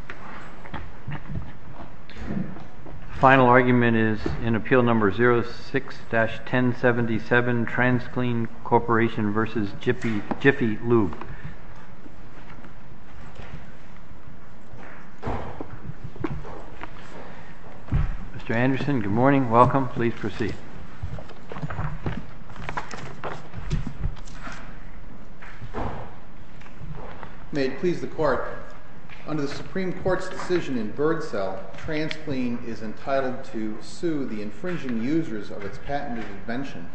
Mr. Anderson, good morning. Welcome. Please proceed. May it please the Court, under the Supreme Court's decision in Bird Cell, Transclean is entitled to sue the infringing users of its patented invention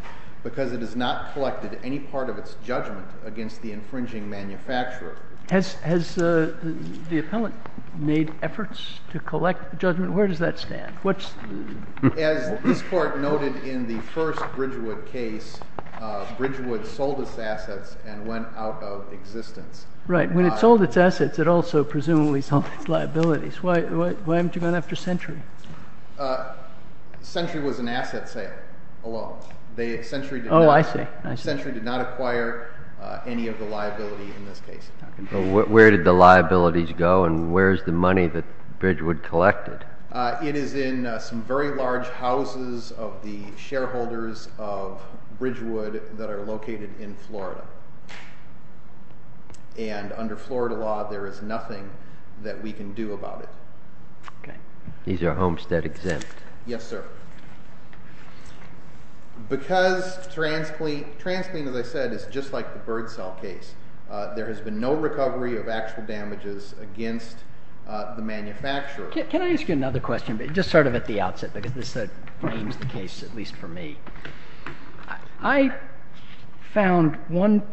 because it has not collected any part of its judgment against the infringing manufacturer. Has the appellant made efforts to collect judgment? Where does that stand? As this Court noted in the first Bridgewood case, Bridgewood sold its assets and went out of existence. Right. When it sold its assets, it also presumably sold its liabilities. Why haven't you gone after Century? Century was an asset sale alone. Century did not acquire any of the liability in this case. Where did the liabilities go and where is the money that Bridgewood collected? It is in some very large houses of the shareholders of Bridgewood that are located in Florida. And under Florida law, there is nothing that we can do about it. These are homestead exempt? Yes, sir. Because Transclean, as I said, is just like the Bird Cell case, there has been no recovery of actual damages against the manufacturer. Can I ask you another question, just sort of at the outset, because this frames the case, at least for me? I found one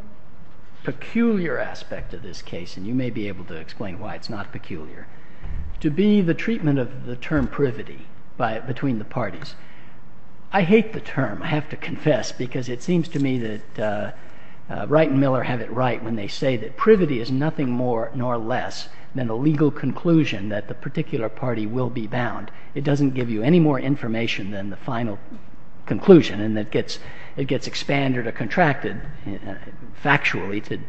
peculiar aspect of this case, and you may be able to explain why it's not peculiar, to be the treatment of the term privity between the parties. I hate the term, I have to confess, because it seems to me that Wright and Miller have it right when they say that that the particular party will be bound. It doesn't give you any more information than the final conclusion, and it gets expanded or contracted, factually,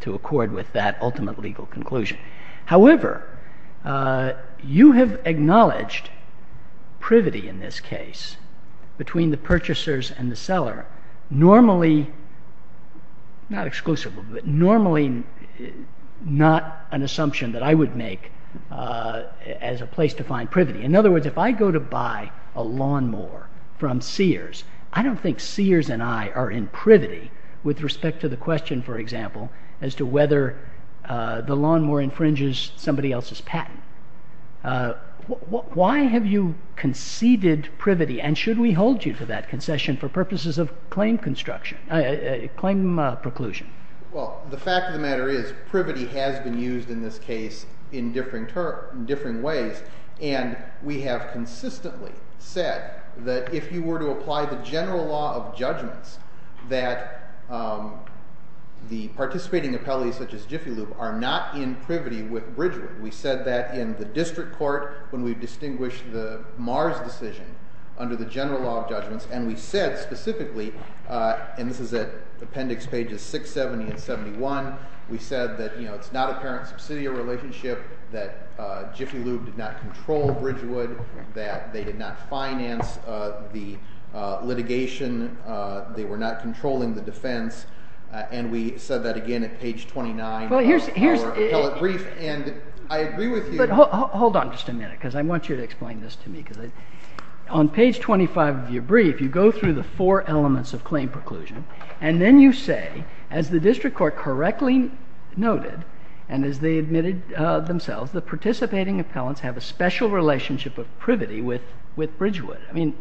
to accord with that ultimate legal conclusion. However, you have acknowledged privity in this case between the purchasers and the seller, normally, not exclusively, but normally not an assumption that I would make as a place to find privity. In other words, if I go to buy a lawnmower from Sears, I don't think Sears and I are in privity, with respect to the question, for example, as to whether the lawnmower infringes somebody else's patent. Why have you conceded privity, and should we hold you to that concession for purposes of claim construction, claim preclusion? Well, the fact of the matter is, privity has been used in this case in differing ways, and we have consistently said that if you were to apply the general law of judgments, that the participating appellees, such as Jiffy Lube, are not in privity with Bridgewood. We said that in the district court when we distinguished the Mars decision under the general law of judgments, and we said specifically, and this is at appendix pages 670 and 71, we said that it's not a parent-subsidiary relationship, that Jiffy Lube did not control Bridgewood, that they did not finance the litigation, they were not controlling the defense, and we said that again at page 29 of our appellate brief. And I agree with you. But hold on just a minute, because I want you to explain this to me. On page 25 of your brief, you go through the four elements of claim preclusion, and then you say, as the district court correctly noted, and as they admitted themselves, the participating appellants have a special relationship of privity with Bridgewood. I mean,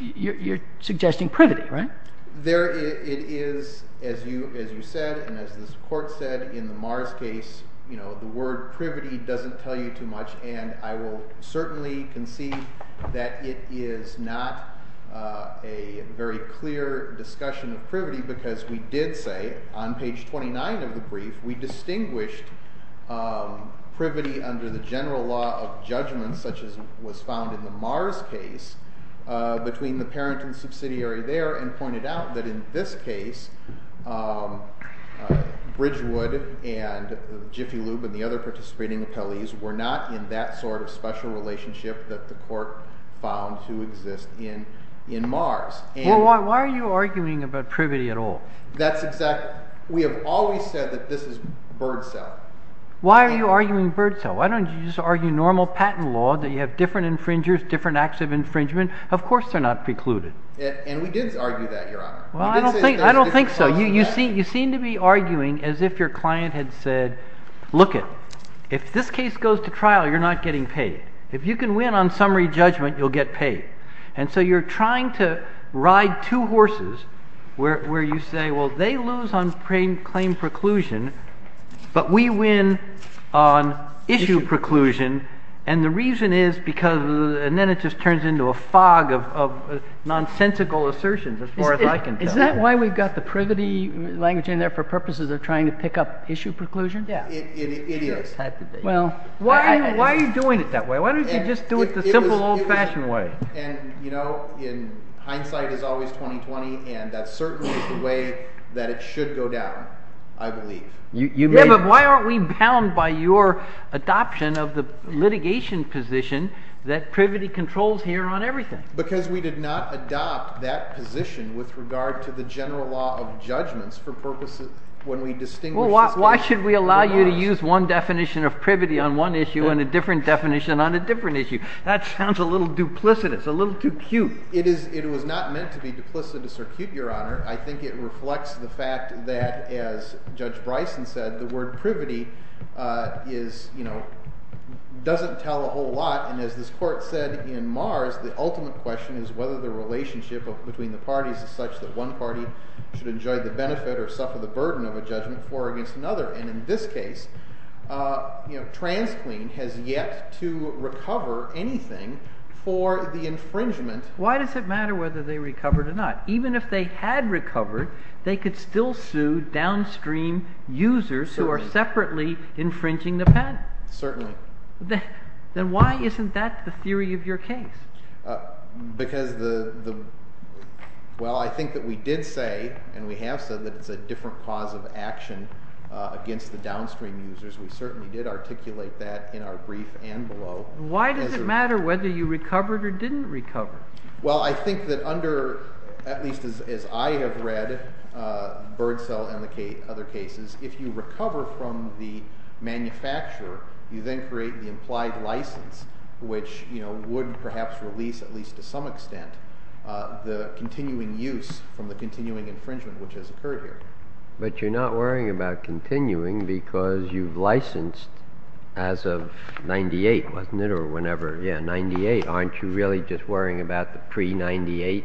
you're suggesting privity, right? There it is, as you said, and as this court said, in the Mars case, you know, the word privity doesn't tell you too much, and I will certainly concede that it is not a very clear discussion of privity, because we did say on page 29 of the brief, we distinguished privity under the general law of judgments, such as was found in the Mars case, between the parent and subsidiary there, and pointed out that in this case, Bridgewood and Jiffy Lube and the other participating appellees were not in that sort of special relationship that the court found to exist in Mars. Well, why are you arguing about privity at all? That's exactly—we have always said that this is bird cell. Why are you arguing bird cell? Why don't you just argue normal patent law, that you have different infringers, different acts of infringement? Of course they're not precluded. And we did argue that, Your Honor. Well, I don't think so. You seem to be arguing as if your client had said, look it, if this case goes to trial, you're not getting paid. If you can win on summary judgment, you'll get paid. And so you're trying to ride two horses where you say, well, they lose on claim preclusion, but we win on issue preclusion. And the reason is because—and then it just turns into a fog of nonsensical assertions as far as I can tell. Is that why we've got the privity language in there for purposes of trying to pick up issue preclusion? Yeah. It is. Well, why are you doing it that way? Why don't you just do it the simple, old-fashioned way? And, you know, in hindsight, it's always 2020, and that certainly is the way that it should go down, I believe. Yeah, but why aren't we bound by your adoption of the litigation position that privity controls here on everything? Because we did not adopt that position with regard to the general law of judgments for purposes—when we distinguish this case— Well, why should we allow you to use one definition of privity on one issue and a different definition on a different issue? That sounds a little duplicitous, a little too cute. It is—it was not meant to be duplicitous or cute, Your Honor. I think it reflects the fact that, as Judge Bryson said, the word privity is—you know, doesn't tell a whole lot. And as this Court said in Mars, the ultimate question is whether the relationship between the parties is such that one party should enjoy the benefit or suffer the burden of a judgment floor against another. And in this case, TransClean has yet to recover anything for the infringement— Why does it matter whether they recovered or not? Even if they had recovered, they could still sue downstream users who are separately infringing the patent. Certainly. Then why isn't that the theory of your case? Because the—well, I think that we did say, and we have said, that it's a different cause of action against the downstream users. We certainly did articulate that in our brief and below. Why does it matter whether you recovered or didn't recover? Well, I think that under—at least as I have read Birdsell and other cases, if you recover from the manufacturer, you then create the implied license, which, you know, would perhaps release, at least to some extent, the continuing use from the continuing infringement, which has occurred here. But you're not worrying about continuing because you've licensed as of 98, wasn't it, or whenever? Yeah, 98. Aren't you really just worrying about the pre-98?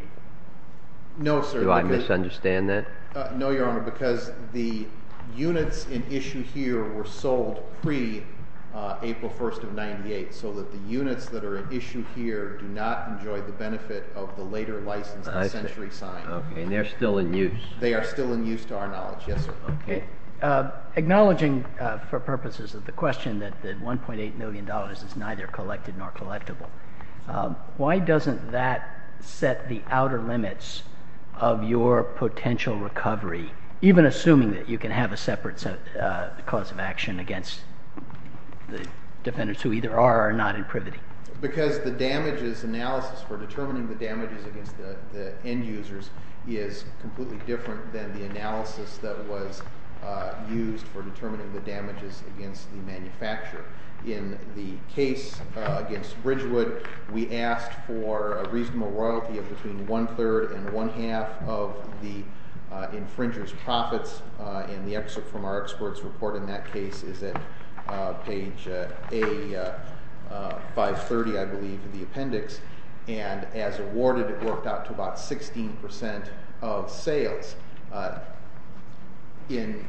No, sir. Do I misunderstand that? No, Your Honor, because the units in issue here were sold pre-April 1st of 98, so that the units that are in issue here do not enjoy the benefit of the later license, the century sign. Okay, and they're still in use. They are still in use to our knowledge, yes, sir. Okay. Acknowledging for purposes of the question that $1.8 million is neither collected nor collectible, why doesn't that set the outer limits of your potential recovery, even assuming that you can have a separate cause of action against the defendants who either are or are not in privity? Because the damages analysis for determining the damages against the end users is completely different than the analysis that was used for determining the damages against the manufacturer. In the case against Bridgewood, we asked for a reasonable royalty of between one-third and one-half of the infringer's profits, and the excerpt from our expert's report in that case is at page A530, I believe, of the appendix. And as awarded, it worked out to about 16% of sales. In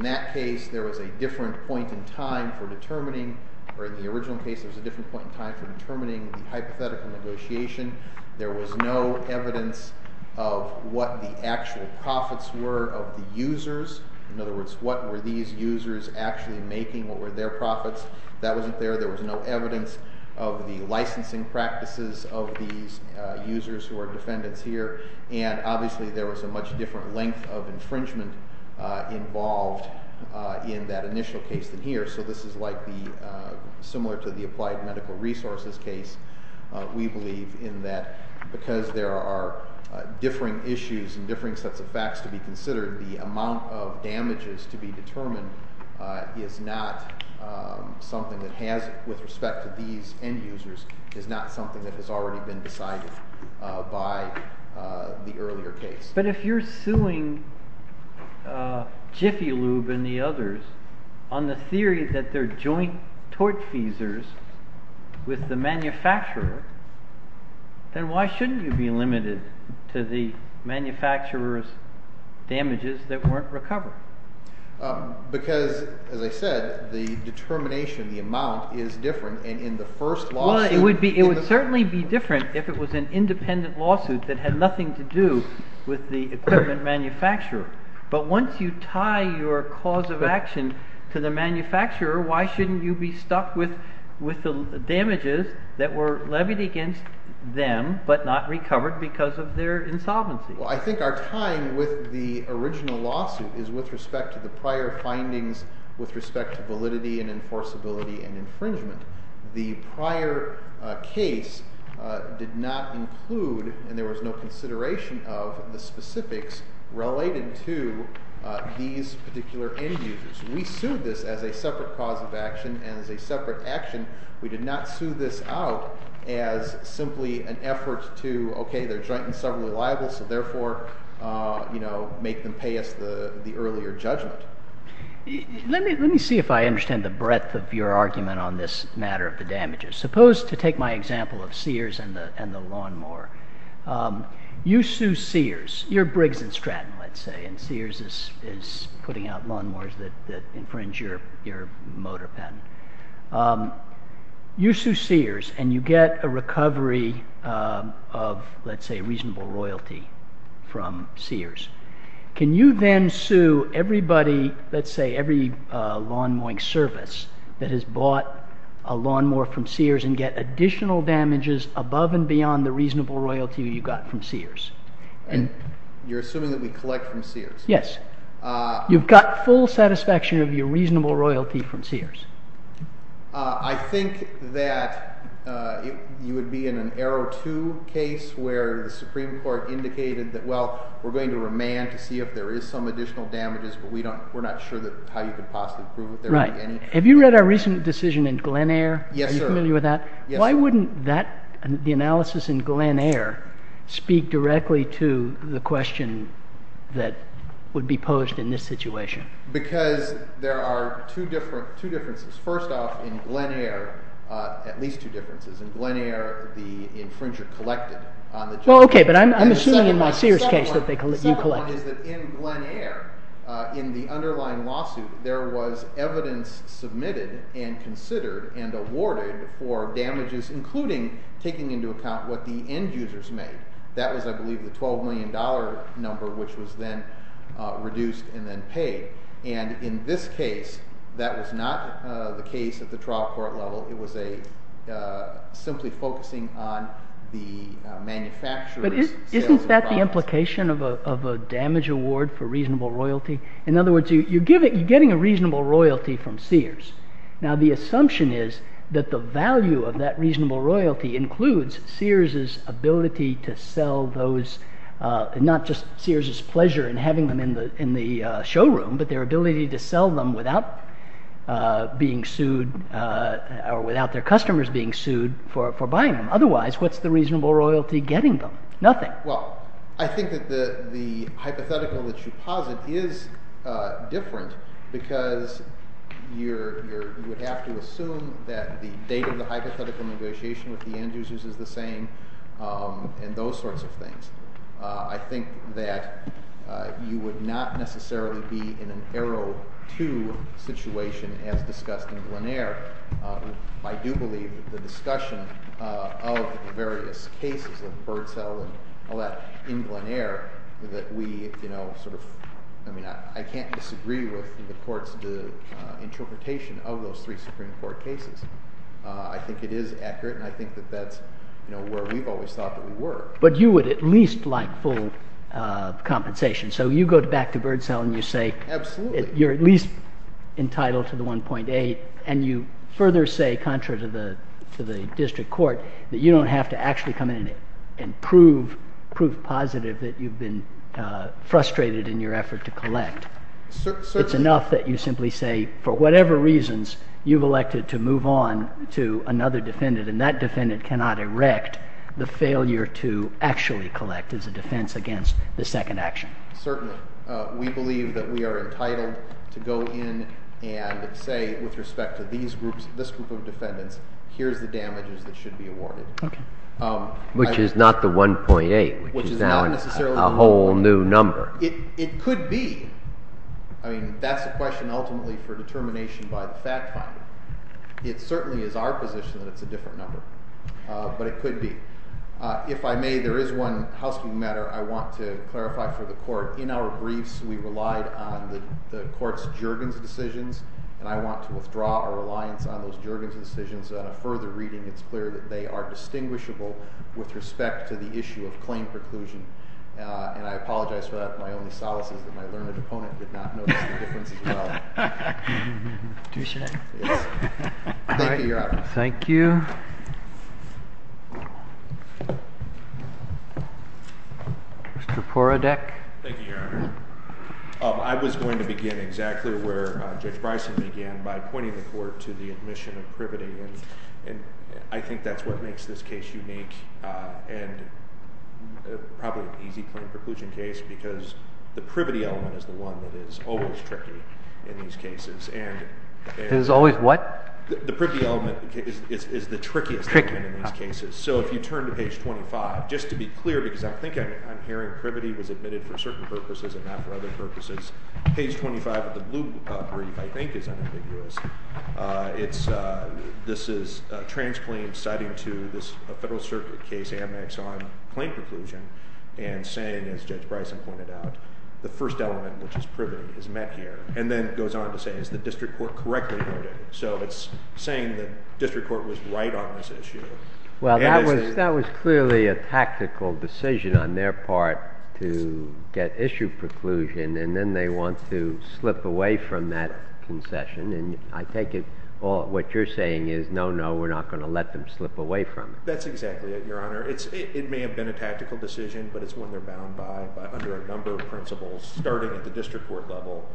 that case, there was a different point in time for determining, or in the original case, there was a different point in time for determining the hypothetical negotiation. There was no evidence of what the actual profits were of the users. In other words, what were these users actually making, what were their profits? That wasn't there. There was no evidence of the licensing practices of these users who are defendants here. And obviously, there was a much different length of infringement involved in that initial case than here. So this is like the—similar to the applied medical resources case. We believe in that because there are differing issues and differing sets of facts to be considered, the amount of damages to be determined is not something that has, with respect to these end users, is not something that has already been decided by the earlier case. But if you're suing Jiffy Lube and the others on the theory that they're joint tortfeasors with the manufacturer, then why shouldn't you be limited to the manufacturer's damages that weren't recovered? Because, as I said, the determination, the amount, is different. Well, it would certainly be different if it was an independent lawsuit that had nothing to do with the equipment manufacturer. But once you tie your cause of action to the manufacturer, why shouldn't you be stuck with the damages that were levied against them but not recovered because of their insolvency? Well, I think our tying with the original lawsuit is with respect to the prior findings with respect to validity and enforceability and infringement. The prior case did not include, and there was no consideration of, the specifics related to these particular end users. We sued this as a separate cause of action and as a separate action. We did not sue this out as simply an effort to, okay, they're joint and severally liable, so therefore make them pay us the earlier judgment. Let me see if I understand the breadth of your argument on this matter of the damages. Suppose, to take my example of Sears and the lawnmower, you sue Sears. You're Briggs and Stratton, let's say, and Sears is putting out lawnmowers that infringe your motor patent. You sue Sears and you get a recovery of, let's say, reasonable royalty from Sears. Can you then sue everybody, let's say, every lawn mowing service that has bought a lawnmower from Sears and get additional damages above and beyond the reasonable royalty you got from Sears? You're assuming that we collect from Sears? Yes. You've got full satisfaction of your reasonable royalty from Sears? I think that you would be in an arrow two case where the Supreme Court indicated that, well, we're going to remand to see if there is some additional damages, but we're not sure how you could possibly prove that there would be any. Right. Have you read our recent decision in Glen Eyre? Yes, sir. Are you familiar with that? Yes, sir. Why wouldn't the analysis in Glen Eyre speak directly to the question that would be posed in this situation? Because there are two differences. First off, in Glen Eyre, at least two differences. In Glen Eyre, the infringer collected. Well, okay, but I'm assuming in my Sears case that you collected. But isn't that the implication of a damage? In other words, you're getting a reasonable royalty from Sears. Now, the assumption is that the value of that reasonable royalty includes Sears' ability to sell those, not just Sears' pleasure in having them in the showroom, but their ability to sell them without being sued or without their customers being sued for buying them. Otherwise, what's the reasonable royalty getting them? Nothing. Well, I think that the hypothetical that you posit is different because you would have to assume that the date of the hypothetical negotiation with the Andrews' is the same and those sorts of things. I think that you would not necessarily be in an arrow two situation as discussed in Glen Eyre. I do believe that the discussion of the various cases of Birdsell and all that in Glen Eyre that we sort of – I mean, I can't disagree with the court's interpretation of those three Supreme Court cases. I think it is accurate, and I think that that's where we've always thought that we were. But you would at least like full compensation. So you go back to Birdsell and you say you're at least entitled to the 1.8, and you further say, contrary to the district court, that you don't have to actually come in and prove positive that you've been frustrated in your effort to collect. It's enough that you simply say, for whatever reasons, you've elected to move on to another defendant, and that defendant cannot erect the failure to actually collect as a defense against the second action. Certainly. We believe that we are entitled to go in and say, with respect to this group of defendants, here's the damages that should be awarded. Which is not the 1.8, which is now a whole new number. It could be. I mean, that's a question ultimately for determination by the fact finder. It certainly is our position that it's a different number. But it could be. If I may, there is one housekeeping matter I want to clarify for the court. In our briefs, we relied on the court's Juergens decisions, and I want to withdraw our reliance on those Juergens decisions. On a further reading, it's clear that they are distinguishable with respect to the issue of claim preclusion. And I apologize for that. My only solace is that my learned opponent did not notice the difference as well. Thank you, Your Honor. Thank you. Mr. Porodek. Thank you, Your Honor. I was going to begin exactly where Judge Bryson began, by pointing the court to the admission of privity. And I think that's what makes this case unique, and probably an easy claim preclusion case, because the privity element is the one that is always tricky in these cases. Is always what? The privity element is the trickiest element in these cases. So if you turn to page 25, just to be clear, because I think I'm hearing privity was admitted for certain purposes and not for other purposes. Page 25 of the blue brief, I think, is unambiguous. This is a trans claim citing to this Federal Circuit case, Amex, on claim preclusion, and saying, as Judge Bryson pointed out, the first element, which is privity, is met here. And then goes on to say, is the district court correctly noted? So it's saying the district court was right on this issue. Well, that was clearly a tactical decision on their part to get issue preclusion, and then they want to slip away from that concession. And I take it what you're saying is, no, no, we're not going to let them slip away from it. That's exactly it, Your Honor. It may have been a tactical decision, but it's when they're bound by, under a number of principles, starting at the district court level,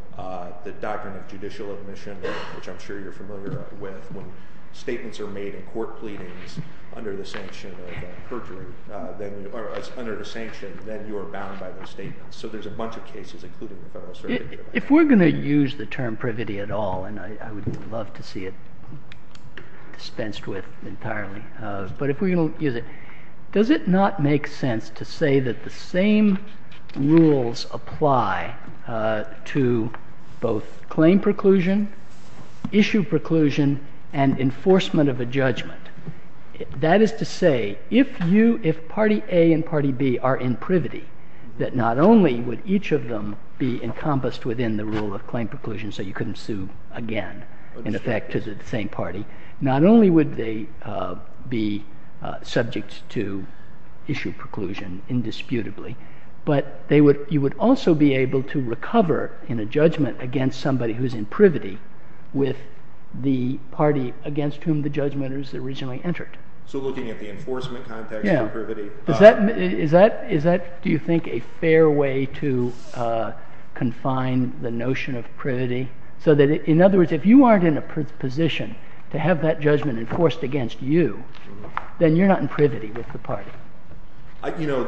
the doctrine of judicial admission, which I'm sure you're familiar with. When statements are made in court pleadings under the sanction of perjury, or under the sanction, then you are bound by those statements. So there's a bunch of cases, including the Federal Circuit. If we're going to use the term privity at all, and I would love to see it dispensed with entirely. But if we're going to use it, does it not make sense to say that the same rules apply to both claim preclusion, issue preclusion, and enforcement of a judgment? That is to say, if party A and party B are in privity, that not only would each of them be encompassed within the rule of claim preclusion so you couldn't sue again, in effect, to the same party. Not only would they be subject to issue preclusion indisputably, but you would also be able to recover in a judgment against somebody who's in privity with the party against whom the judgment was originally entered. So looking at the enforcement context of privity. Is that, do you think, a fair way to confine the notion of privity? So that, in other words, if you aren't in a position to have that judgment enforced against you, then you're not in privity with the party. You know,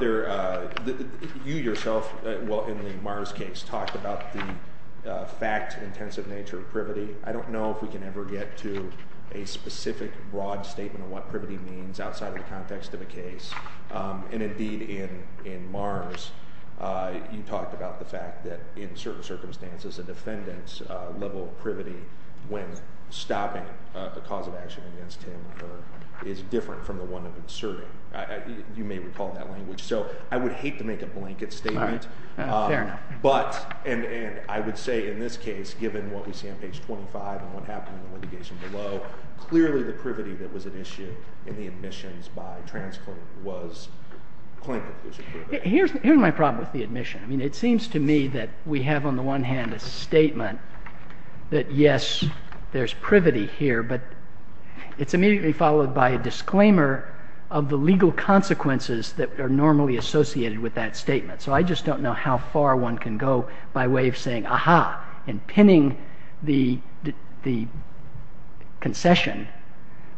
you yourself, in the Mars case, talked about the fact-intensive nature of privity. I don't know if we can ever get to a specific broad statement of what privity means outside of the context of a case. And indeed, in Mars, you talked about the fact that in certain circumstances, a defendant's level of privity when stopping a cause of action against him is different from the one of inserting. You may recall that language. So I would hate to make a blanket statement. Fair enough. But, and I would say in this case, given what we see on page 25 and what happened in the litigation below, clearly the privity that was at issue in the admissions by Trans Court was plain confusion. Here's my problem with the admission. I mean, it seems to me that we have on the one hand a statement that, yes, there's privity here, but it's immediately followed by a disclaimer of the legal consequences that are normally associated with that statement. So I just don't know how far one can go by way of saying, aha, and pinning the concession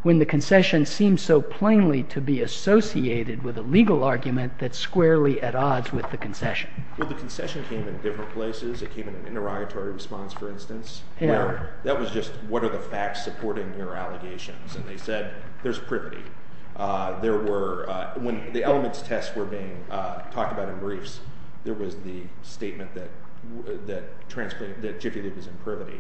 when the concession seems so plainly to be associated with a legal argument that's squarely at odds with the concession. Well, the concession came in different places. It came in an interrogatory response, for instance, where that was just what are the facts supporting your allegations. And they said there's privity. When the elements tests were being talked about in briefs, there was the statement that Jiffy Lube is in privity.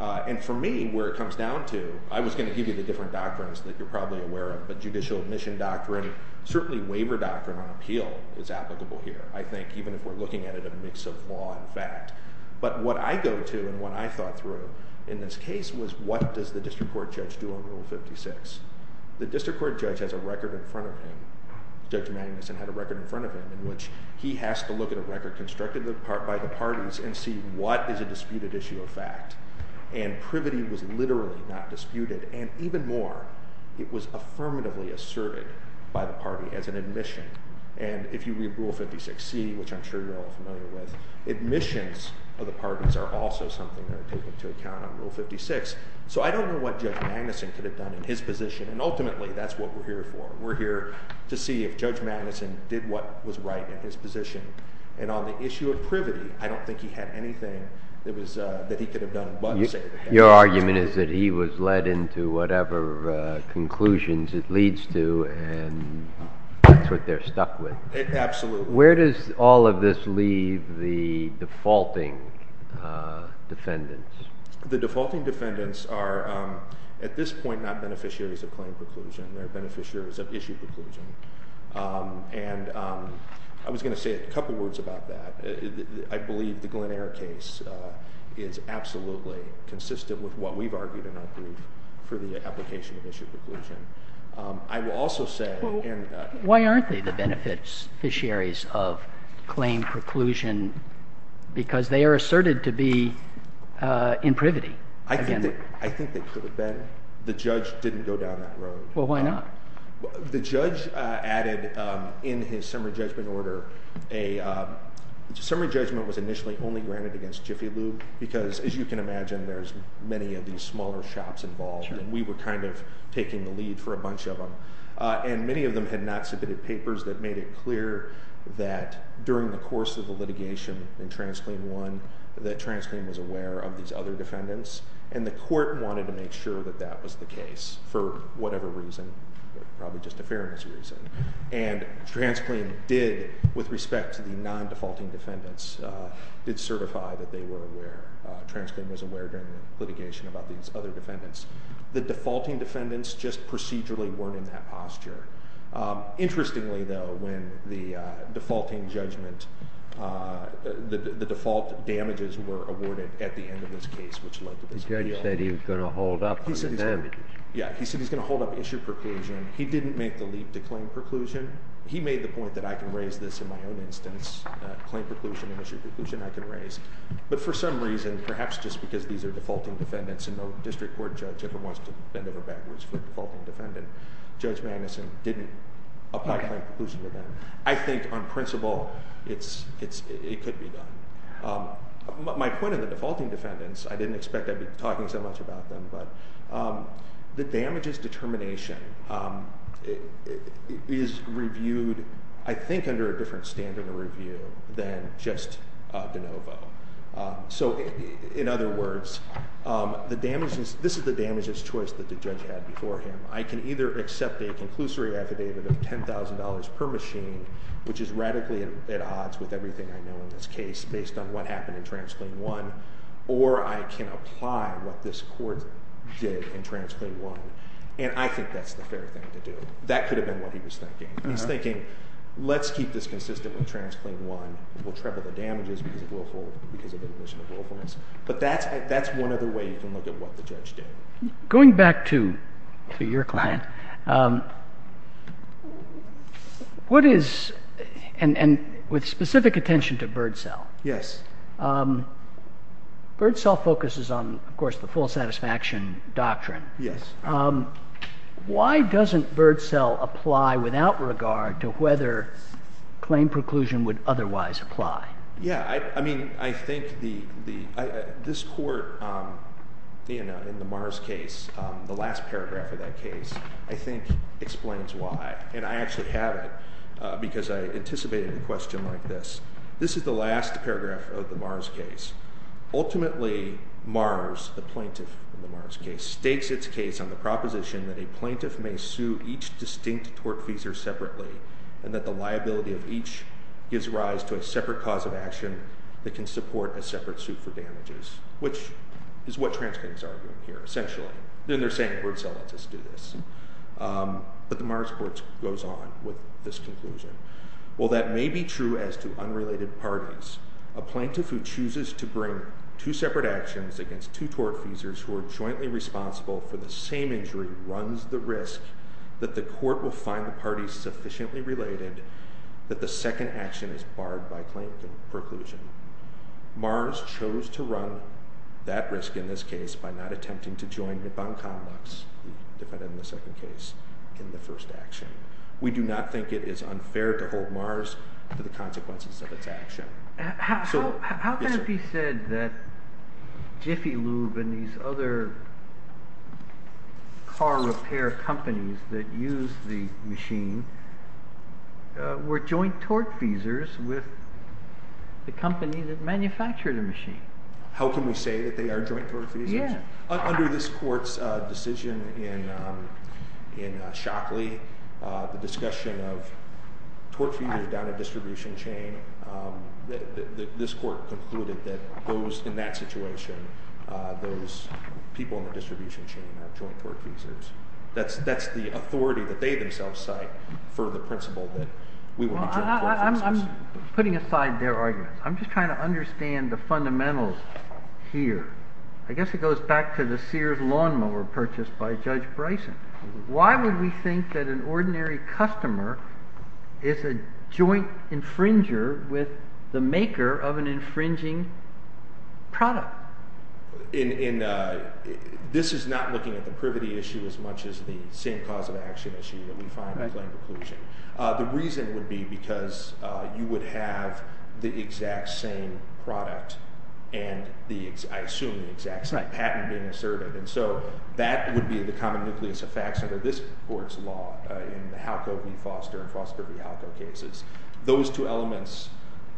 And for me, where it comes down to, I was going to give you the different doctrines that you're probably aware of, but judicial admission doctrine, certainly waiver doctrine on appeal is applicable here, I think, even if we're looking at it in a mix of law and fact. But what I go to and what I thought through in this case was what does the district court judge do on Rule 56? The district court judge has a record in front of him. Judge Magnuson had a record in front of him in which he has to look at a record constructed by the parties and see what is a disputed issue of fact. And privity was literally not disputed. And even more, it was affirmatively asserted by the party as an admission. And if you read Rule 56C, which I'm sure you're all familiar with, admissions of the parties are also something that are taken into account on Rule 56. So I don't know what Judge Magnuson could have done in his position. And ultimately, that's what we're here for. We're here to see if Judge Magnuson did what was right in his position. And on the issue of privity, I don't think he had anything that he could have done. Your argument is that he was led into whatever conclusions it leads to and that's what they're stuck with. Absolutely. Where does all of this leave the defaulting defendants? The defaulting defendants are, at this point, not beneficiaries of claim preclusion. They're beneficiaries of issue preclusion. And I was going to say a couple words about that. I believe the Glen Eyre case is absolutely consistent with what we've argued in our brief for the application of issue preclusion. I will also say— Why aren't they the beneficiaries of claim preclusion? Because they are asserted to be in privity. I think they could have been. The judge didn't go down that road. Well, why not? The judge added in his summary judgment order— summary judgment was initially only granted against Jiffy Lube because, as you can imagine, there's many of these smaller shops involved. And we were kind of taking the lead for a bunch of them. And many of them had not submitted papers that made it clear that, during the course of the litigation in Transclaim I, that Transclaim was aware of these other defendants. And the court wanted to make sure that that was the case for whatever reason, probably just a fairness reason. And Transclaim did, with respect to the non-defaulting defendants, did certify that they were aware. Transclaim was aware during the litigation about these other defendants. The defaulting defendants just procedurally weren't in that posture. Interestingly, though, when the defaulting judgment—the default damages were awarded at the end of this case, which led to this appeal. The judge said he was going to hold up the damages. Yeah, he said he was going to hold up issue preclusion. He didn't make the leap to claim preclusion. He made the point that I can raise this in my own instance. Claim preclusion and issue preclusion I can raise. But for some reason, perhaps just because these are defaulting defendants and no district court judge ever wants to bend over backwards for a defaulting defendant, Judge Magnuson didn't apply claim preclusion to them. I think, on principle, it could be done. My point of the defaulting defendants—I didn't expect I'd be talking so much about them— the damages determination is reviewed, I think, under a different standard of review than just de novo. In other words, this is the damages choice that the judge had before him. I can either accept a conclusory affidavit of $10,000 per machine, which is radically at odds with everything I know in this case based on what happened in Transclaim 1, or I can apply what this court did in Transclaim 1. And I think that's the fair thing to do. That could have been what he was thinking. He's thinking, let's keep this consistent with Transclaim 1. We'll treble the damages because of admission of willfulness. But that's one other way you can look at what the judge did. Going back to your client, what is—and with specific attention to Birdsell. Yes. Birdsell focuses on, of course, the full satisfaction doctrine. Yes. Why doesn't Birdsell apply without regard to whether claim preclusion would otherwise apply? Yeah. I mean, I think this court in the Mars case, the last paragraph of that case, I think explains why. And I actually have it because I anticipated a question like this. This is the last paragraph of the Mars case. Ultimately, Mars, the plaintiff in the Mars case, states its case on the proposition that a plaintiff may sue each distinct tortfeasor separately and that the liability of each gives rise to a separate cause of action that can support a separate suit for damages, which is what Transclaim's arguing here, essentially. They're saying Birdsell lets us do this. But the Mars court goes on with this conclusion. Well, that may be true as to unrelated parties. A plaintiff who chooses to bring two separate actions against two tortfeasors who are jointly responsible for the same injury runs the risk that the court will find the parties sufficiently related that the second action is barred by claim preclusion. Mars chose to run that risk in this case by not attempting to join Hippon Conducts, we've defined it in the second case, in the first action. We do not think it is unfair to hold Mars to the consequences of its action. How can it be said that Jiffy Lube and these other car repair companies that use the machine were joint tortfeasors with the company that manufactured the machine? How can we say that they are joint tortfeasors? Under this court's decision in Shockley, the discussion of tortfeasors down a distribution chain, this court concluded that in that situation, those people in the distribution chain are joint tortfeasors. That's the authority that they themselves cite for the principle that we will not be joint tortfeasors. I'm putting aside their arguments. I'm just trying to understand the fundamentals here. I guess it goes back to the Sears lawnmower purchased by Judge Bryson. Why would we think that an ordinary customer is a joint infringer with the maker of an infringing product? This is not looking at the privity issue as much as the same cause of action issue that we find in claim preclusion. The reason would be because you would have the exact same product and I assume the exact same patent being asserted. That would be the common nucleus of facts under this court's law in the Halco v. Foster and Foster v. Halco cases. Those two elements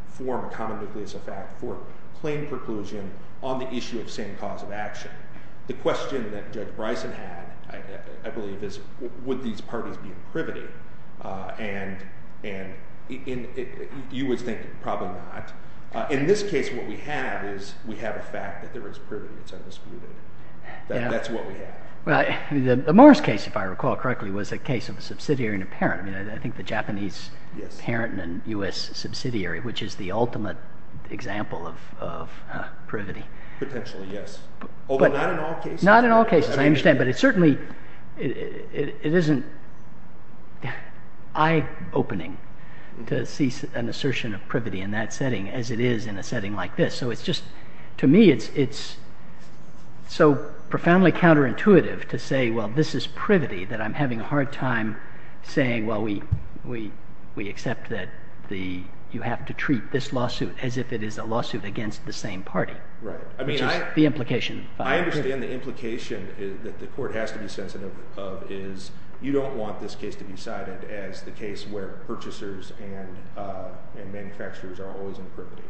form a common nucleus of fact for claim preclusion on the issue of same cause of action. The question that Judge Bryson had, I believe, is would these parties be in privity? You would think probably not. In this case, what we have is we have a fact that there is privity. It's undisputed. That's what we have. The Morris case, if I recall correctly, was a case of a subsidiary and a parent. I think the Japanese parent and a U.S. subsidiary, which is the ultimate example of privity. Potentially, yes. Although not in all cases. Not in all cases, I understand. But it certainly isn't eye-opening to see an assertion of privity in that setting as it is in a setting like this. To me, it's so profoundly counterintuitive to say, well, this is privity that I'm having a hard time saying, while we accept that you have to treat this lawsuit as if it is a lawsuit against the same party. Right. Which is the implication. I understand the implication that the court has to be sensitive of is you don't want this case to be cited as the case where purchasers and manufacturers are always in privity.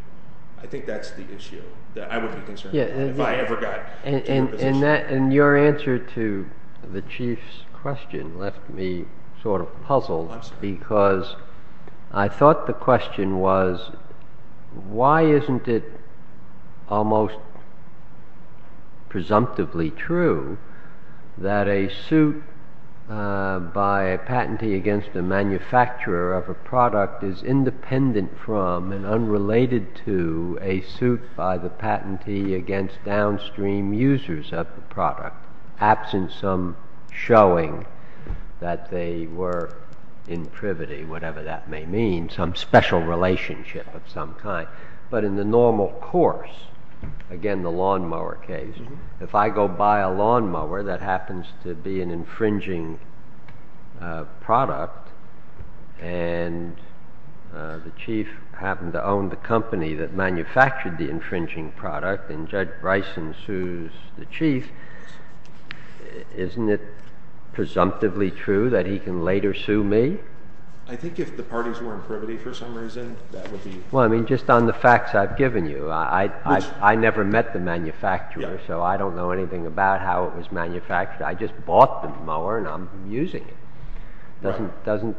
I think that's the issue that I would be concerned about if I ever got to a position. Your answer to the chief's question left me sort of puzzled because I thought the question was, why isn't it almost presumptively true that a suit by a patentee against a manufacturer of a product is independent from and unrelated to a suit by the patentee against downstream users of the product, absent some showing that they were in privity, whatever that may mean, some special relationship of some kind. But in the normal course, again the lawnmower case, if I go buy a lawnmower that happens to be an infringing product and the chief happened to own the company that manufactured the infringing product and Judge Bryson sues the chief, isn't it presumptively true that he can later sue me? I think if the parties were in privity for some reason, that would be... Well, I mean just on the facts I've given you. I never met the manufacturer, so I don't know anything about how it was manufactured. I just bought the mower and I'm using it.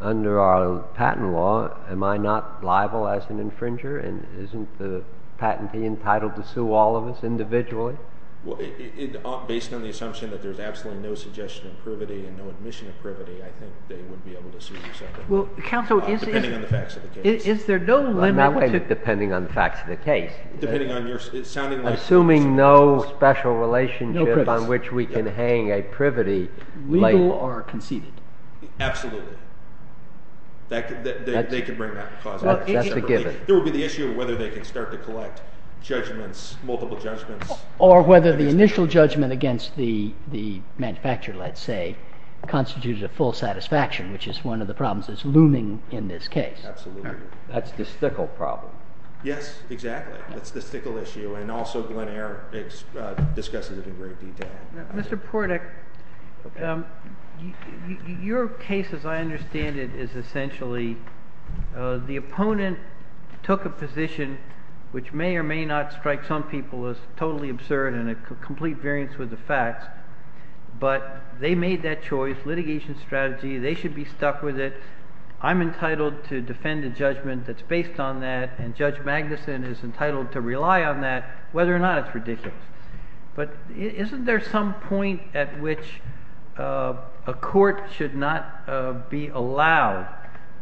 Under our patent law, am I not liable as an infringer and isn't the patentee entitled to sue all of us individually? Based on the assumption that there's absolutely no suggestion of privity and no admission of privity, I think they would be able to sue you separately, depending on the facts of the case. Depending on the facts of the case. Assuming no special relationship on which we can hang a privity. Legal or conceded. Absolutely. They can bring that to cause. That's a given. There would be the issue of whether they can start to collect judgments, multiple judgments. Or whether the initial judgment against the manufacturer, let's say, constitutes a full satisfaction, which is one of the problems that's looming in this case. Absolutely. That's the stickle problem. Yes, exactly. That's the stickle issue, and also Glen Eyre discusses it in great detail. Mr. Portek, your case, as I understand it, is essentially the opponent took a position which may or may not strike some people as totally absurd and a complete variance with the facts, but they made that choice. Litigation strategy. They should be stuck with it. I'm entitled to defend a judgment that's based on that, and Judge Magnuson is entitled to rely on that, whether or not it's ridiculous. But isn't there some point at which a court should not be allowed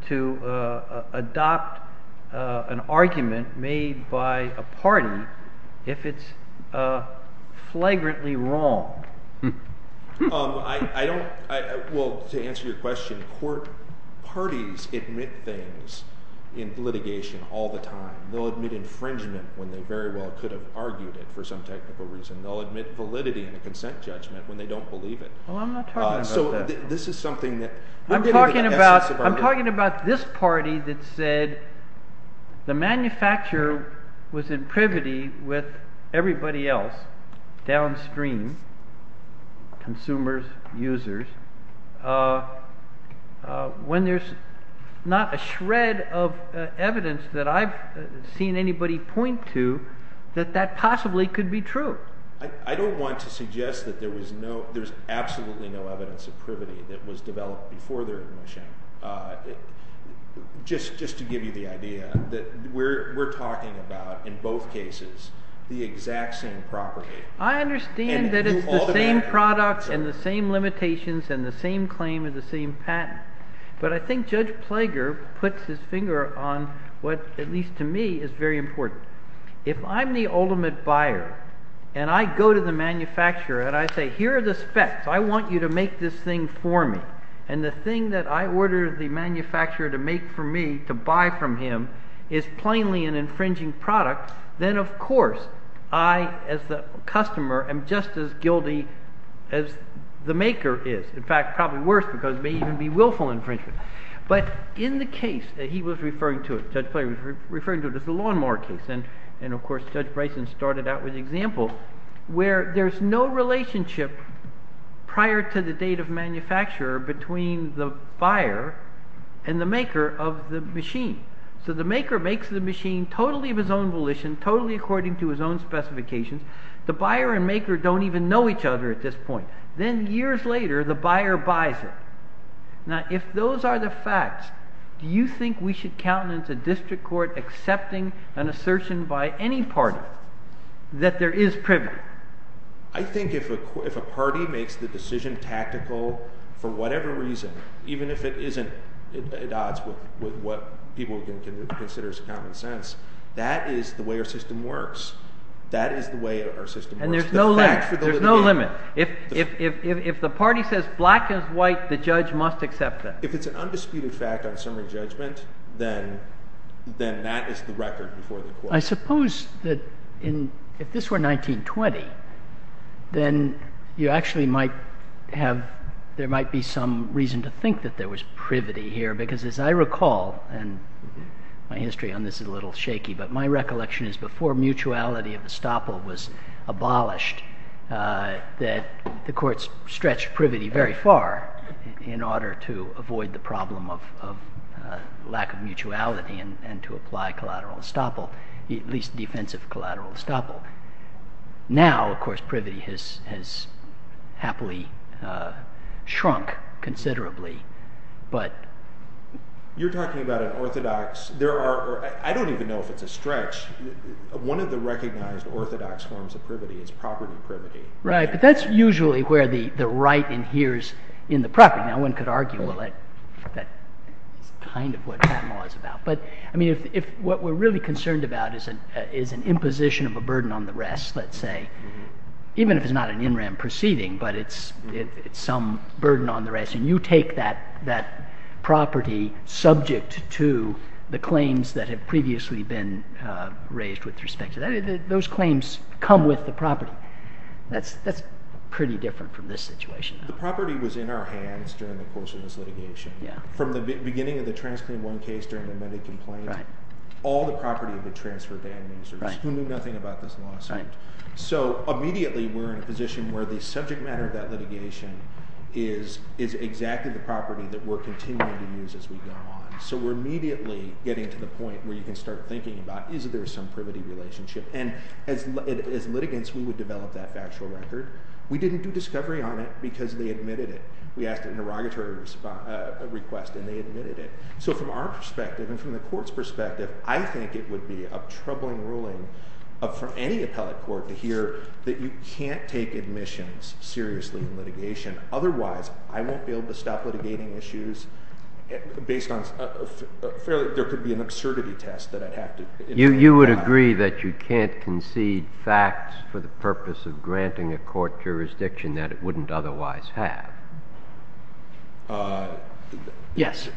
to adopt an argument made by a party if it's flagrantly wrong? Well, to answer your question, court parties admit things in litigation all the time. They'll admit infringement when they very well could have argued it for some technical reason. They'll admit validity in a consent judgment when they don't believe it. Well, I'm not talking about that. I'm talking about this party that said the manufacturer was in privity with everybody else downstream, consumers, users, when there's not a shred of evidence that I've seen anybody point to that that possibly could be true. I don't want to suggest that there's absolutely no evidence of privity that was developed before their admission, just to give you the idea that we're talking about, in both cases, the exact same property. I understand that it's the same product and the same limitations and the same claim and the same patent. But I think Judge Plager puts his finger on what, at least to me, is very important. If I'm the ultimate buyer and I go to the manufacturer and I say, here are the specs. I want you to make this thing for me. And the thing that I order the manufacturer to make for me, to buy from him, is plainly an infringing product, then, of course, I, as the customer, am just as guilty as the maker is. In fact, probably worse, because it may even be willful infringement. But in the case that he was referring to, Judge Plager was referring to it as the lawnmower case, and, of course, Judge Bryson started out with the example, where there's no relationship prior to the date of manufacture between the buyer and the maker of the machine. So the maker makes the machine totally of his own volition, totally according to his own specifications. The buyer and maker don't even know each other at this point. Then, years later, the buyer buys it. Now, if those are the facts, do you think we should countenance a district court accepting an assertion by any party that there is privilege? I think if a party makes the decision tactical for whatever reason, even if it isn't at odds with what people can consider as common sense, that is the way our system works. That is the way our system works. And there's no limit. There's no limit. If the party says black is white, the judge must accept it. If it's an undisputed fact on summary judgment, then that is the record before the court. I suppose that if this were 1920, then there might be some reason to think that there was privity here, because as I recall, and my history on this is a little shaky, but my recollection is before mutuality of estoppel was abolished, that the courts stretched privity very far in order to avoid the problem of lack of mutuality and to apply collateral estoppel, at least defensive collateral estoppel. Now, of course, privity has happily shrunk considerably. You're talking about an orthodox. I don't even know if it's a stretch. One of the recognized orthodox forms of privity is property privity. Right, but that's usually where the right inheres in the property. Now, one could argue, well, that's kind of what that law is about. But what we're really concerned about is an imposition of a burden on the rest, let's say, even if it's not an in rem proceeding, but it's some burden on the rest. And you take that property subject to the claims that have previously been raised with respect to that. Those claims come with the property. That's pretty different from this situation. The property was in our hands during the course of this litigation. From the beginning of the Transclaim I case during the Medicaid complaint, all the property had been transferred to administrators who knew nothing about this lawsuit. So immediately we're in a position where the subject matter of that litigation is exactly the property that we're continuing to use as we go on. So we're immediately getting to the point where you can start thinking about, is there some privity relationship? And as litigants, we would develop that factual record. We didn't do discovery on it because they admitted it. We asked an interrogatory request, and they admitted it. So from our perspective and from the court's perspective, I think it would be a troubling ruling for any appellate court to hear that you can't take admissions seriously in litigation. Otherwise, I won't be able to stop litigating issues based on fairly – there could be an absurdity test that I'd have to – You would agree that you can't concede facts for the purpose of granting a court jurisdiction that it wouldn't otherwise have? Yes.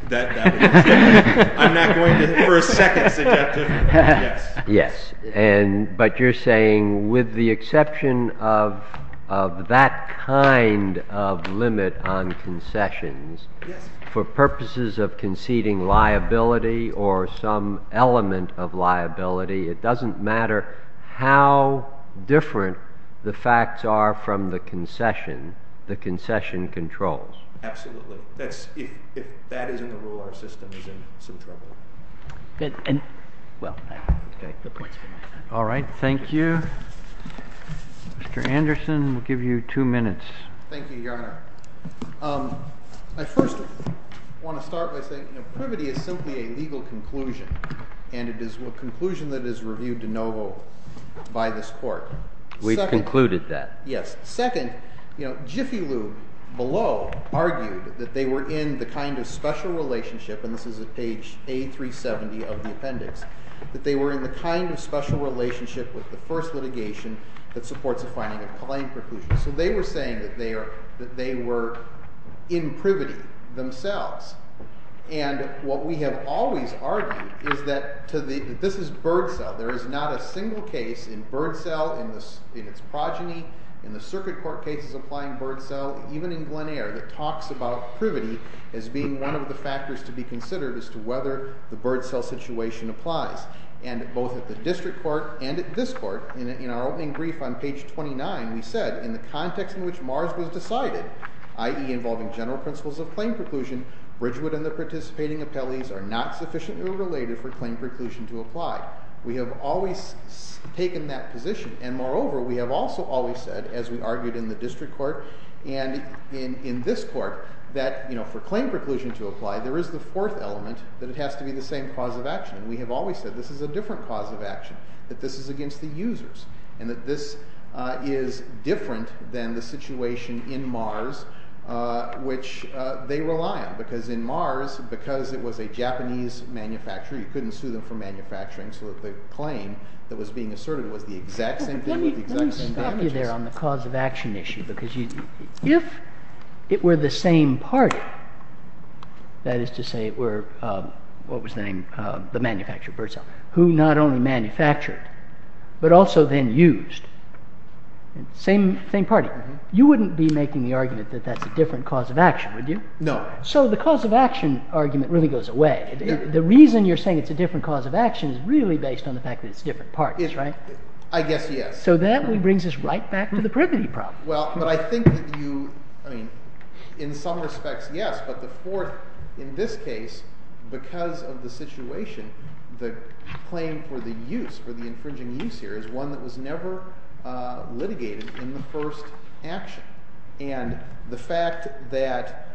I'm not going to – for a second, subjective. Yes. But you're saying with the exception of that kind of limit on concessions, for purposes of conceding liability or some element of liability, it doesn't matter how different the facts are from the concession, the concession controls. Absolutely. If that isn't a rule, our system is in some trouble. Well, the point's been made. All right. Thank you. Mr. Anderson, we'll give you two minutes. Thank you, Your Honor. I first want to start by saying privity is simply a legal conclusion, and it is a conclusion that is reviewed de novo by this court. We've concluded that. Yes. Second, Jiffy Lube below argued that they were in the kind of special relationship, and this is at page A370 of the appendix, that they were in the kind of special relationship with the first litigation that supports the finding of claim preclusion. So they were saying that they were in privity themselves. And what we have always argued is that this is bird cell. There is not a single case in bird cell, in its progeny, in the circuit court cases applying bird cell, even in Glen Eyre that talks about privity as being one of the factors to be considered as to whether the bird cell situation applies. And both at the district court and at this court, in our opening brief on page 29, we said, in the context in which Mars was decided, i.e. involving general principles of claim preclusion, Bridgewood and the participating appellees are not sufficiently related for claim preclusion to apply. We have always taken that position, and moreover, we have also always said, as we argued in the district court and in this court, that for claim preclusion to apply, there is the fourth element, that it has to be the same cause of action. We have always said this is a different cause of action, that this is against the users, and that this is different than the situation in Mars, which they rely on, because in Mars, because it was a Japanese manufacturer, you couldn't sue them for manufacturing, so the claim that was being asserted was the exact same thing, with the exact same damages. Let me stop you there on the cause of action issue, because if it were the same party, that is to say it were, what was the name, the manufacturer of the bird cell, who not only manufactured, but also then used, same party, you wouldn't be making the argument that that's a different cause of action, would you? No. So the cause of action argument really goes away. The reason you're saying it's a different cause of action is really based on the fact that it's different parties, right? I guess yes. So that brings us right back to the privity problem. Well, but I think that you, I mean, in some respects, yes, but the fourth, in this case, because of the situation, the claim for the use, for the infringing use here, is one that was never litigated in the first action. And the fact that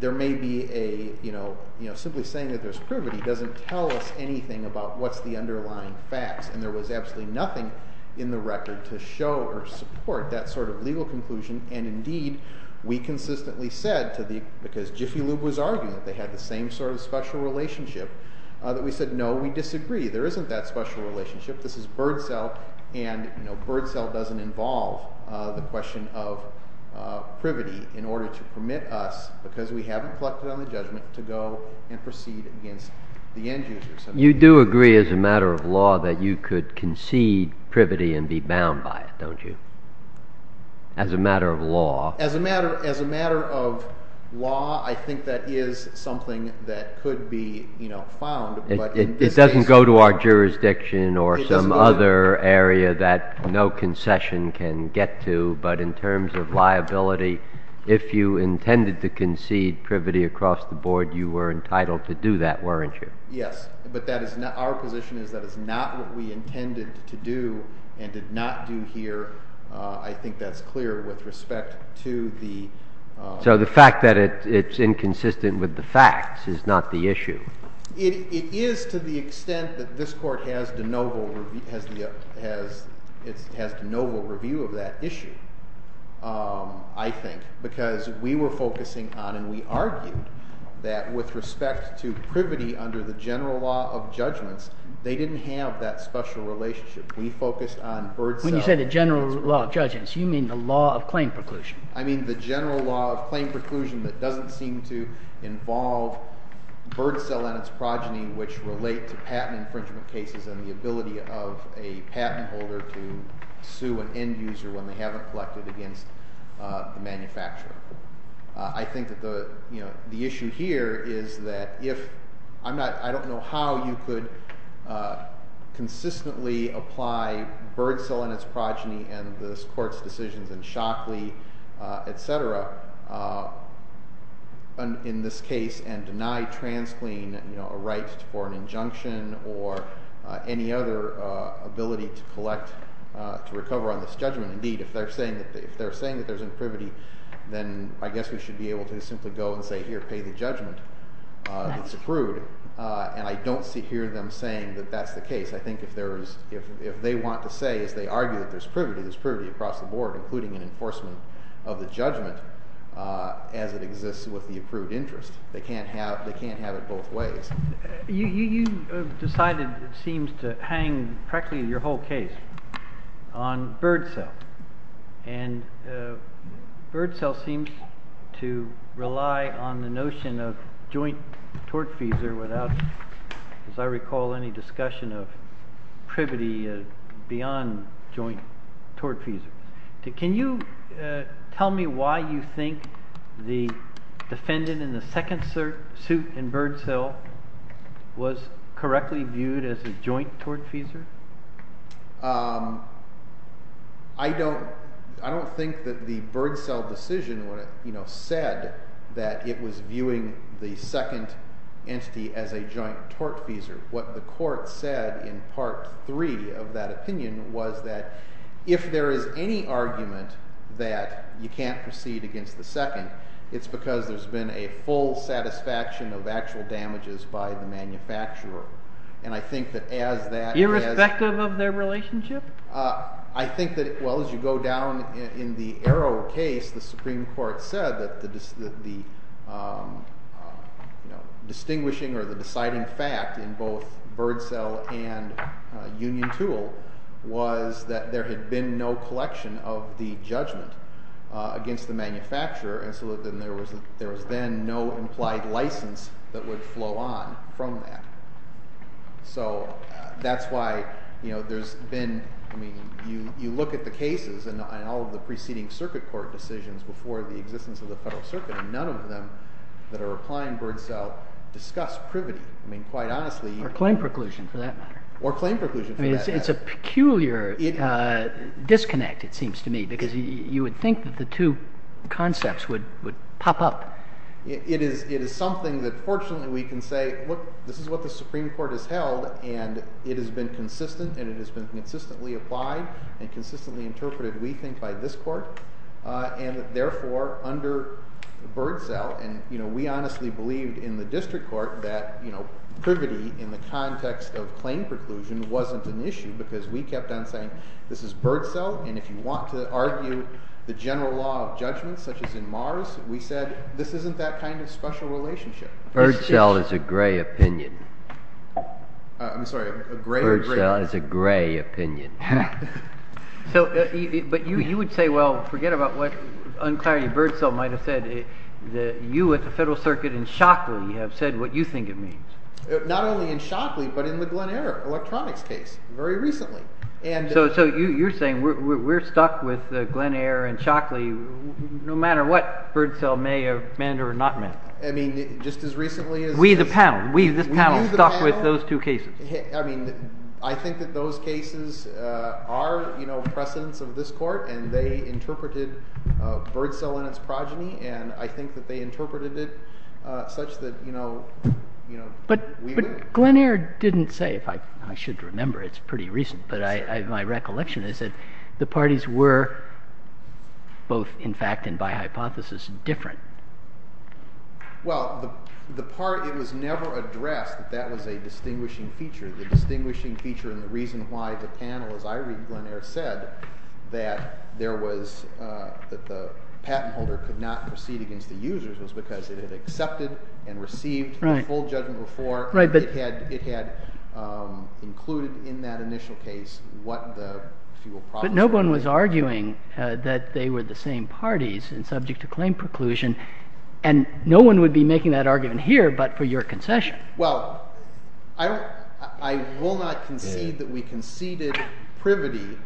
there may be a, you know, simply saying that there's privity doesn't tell us anything about what's the underlying facts, and there was absolutely nothing in the record to show or support that sort of legal conclusion, and indeed, we consistently said to the, because Jiffy Lube was arguing that they had the same sort of special relationship, that we said, no, we disagree. There isn't that special relationship. This is bird cell, and, you know, it's a question of privity in order to permit us, because we haven't collected on the judgment, to go and proceed against the end user. You do agree, as a matter of law, that you could concede privity and be bound by it, don't you? As a matter of law. As a matter of law, I think that is something that could be, you know, found, but in this case... It doesn't go to our jurisdiction or some other area that no concession can get to, but in terms of liability, if you intended to concede privity across the board, you were entitled to do that, weren't you? Yes, but that is not, our position is that is not what we intended to do and did not do here. I think that's clear with respect to the... So the fact that it's inconsistent with the facts is not the issue? It is to the extent that this court has de novo, has de novo review of that issue, I think, because we were focusing on and we argued that with respect to privity under the general law of judgments, they didn't have that special relationship. We focused on bird cell... When you say the general law of judgments, you mean the law of claim preclusion. I mean the general law of claim preclusion that doesn't seem to involve bird cell and its progeny, which relate to patent infringement cases and the ability of a patent holder to sue an end user when they haven't collected against the manufacturer. I think that the issue here is that if... I don't know how you could consistently apply bird cell and its progeny and this court's decisions in Shockley, etc., in this case, and deny TransClean a right for an injunction or any other ability to collect, to recover on this judgment. Indeed, if they're saying that there's imprivity, then I guess we should be able to simply go and say, here, pay the judgment. It's approved. And I don't hear them saying that that's the case. I think if they want to say, if they argue that there's privity, there's privity across the board, including an enforcement of the judgment as it exists with the approved interest. They can't have it both ways. You decided, it seems, to hang practically your whole case on bird cell. And bird cell seems to rely on the notion of joint tortfeasor without, as I recall, any discussion of privity beyond joint tortfeasor. Can you tell me why you think the defendant in the second suit in bird cell was correctly viewed as a joint tortfeasor? I don't think that the bird cell decision said that it was viewing the second entity as a joint tortfeasor. What the court said in Part 3 of that opinion was that if there is any argument that you can't proceed against the second, it's because there's been a full satisfaction of actual damages by the manufacturer. And I think that as that has Irrespective of their relationship? I think that, well, as you go down in the Arrow case, the Supreme Court said that the distinguishing or the deciding fact in both bird cell and Union Tool was that there had been no collection of the judgment against the manufacturer. And so then there was then no implied license that would flow on from that. So that's why there's been, I mean, you look at the cases and all of the preceding circuit court decisions before the existence of the Federal Circuit, and none of them that are applying bird cell discuss privity. I mean, quite honestly, you can't Or claim preclusion, for that matter. Or claim preclusion, for that matter. I mean, it's a peculiar disconnect, it seems to me, because you would think that the two concepts would pop up. It is something that, fortunately, we can say, this is what the Supreme Court has held, and it has been consistent, and it has been consistently applied and consistently interpreted, we think, by this court. And therefore, under bird cell, and we honestly believed in the district court that privity in the context of claim preclusion wasn't an issue because we kept on saying, this is bird cell, and if you want to argue the general law of judgment, such as in Mars, we said, this isn't that kind of special relationship. Bird cell is a gray opinion. I'm sorry, a gray opinion? Bird cell is a gray opinion. But you would say, well, forget about what Unclarity Bird Cell might have said. You at the Federal Circuit in Shockley have said what you think it means. Not only in Shockley, but in the Glen Eyre Electronics case, very recently. So you're saying we're stuck with Glen Eyre and Shockley no matter what bird cell may have meant or not meant. I mean, just as recently as this. We, the panel. We, this panel, stuck with those two cases. I mean, I think that those cases are precedents of this court, and they interpreted bird cell and its progeny, and I think that they interpreted it such that we would. But Glen Eyre didn't say, if I should remember, it's pretty recent, but my recollection is that the parties were both, in fact, and by hypothesis, different. Well, the part that was never addressed, that was a distinguishing feature. The distinguishing feature and the reason why the panel, as I read Glen Eyre, said that there was, that the patent holder could not proceed against the users was because it had accepted and received the full judgment before. Right, but. It had included in that initial case what the fuel problems were. But no one was arguing that they were the same parties and subject to claim preclusion. And no one would be making that argument here, but for your concession. Well, I will not concede that we conceded privity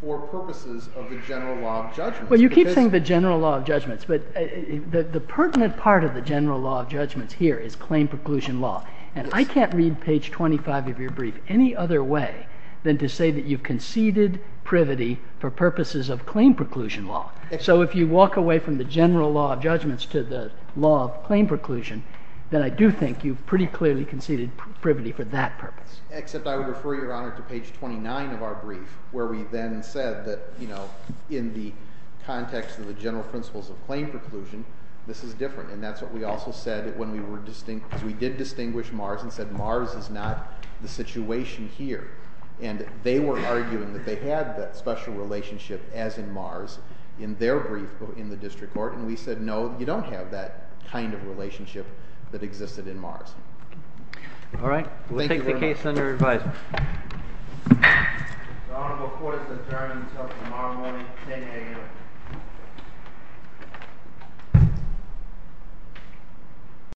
for purposes of the general law of judgments. Well, you keep saying the general law of judgments, but the pertinent part of the general law of judgments here is claim preclusion law. And I can't read page 25 of your brief any other way than to say that you've conceded privity for purposes of claim preclusion law. So if you walk away from the general law of judgments to the law of claim preclusion, then I do think you've pretty clearly conceded privity for that purpose. Except I would refer, Your Honor, to page 29 of our brief, where we then said that in the context of the general principles of claim preclusion, this is different. And that's what we also said when we did distinguish Mars and said Mars is not the situation here. And they were arguing that they had that special relationship, as in Mars, in their brief in the district court. And we said, no, you don't have that kind of relationship that existed in Mars. All right. Thank you very much. We'll take the case under advisement. The honorable court has adjourned until tomorrow morning, 10 AM.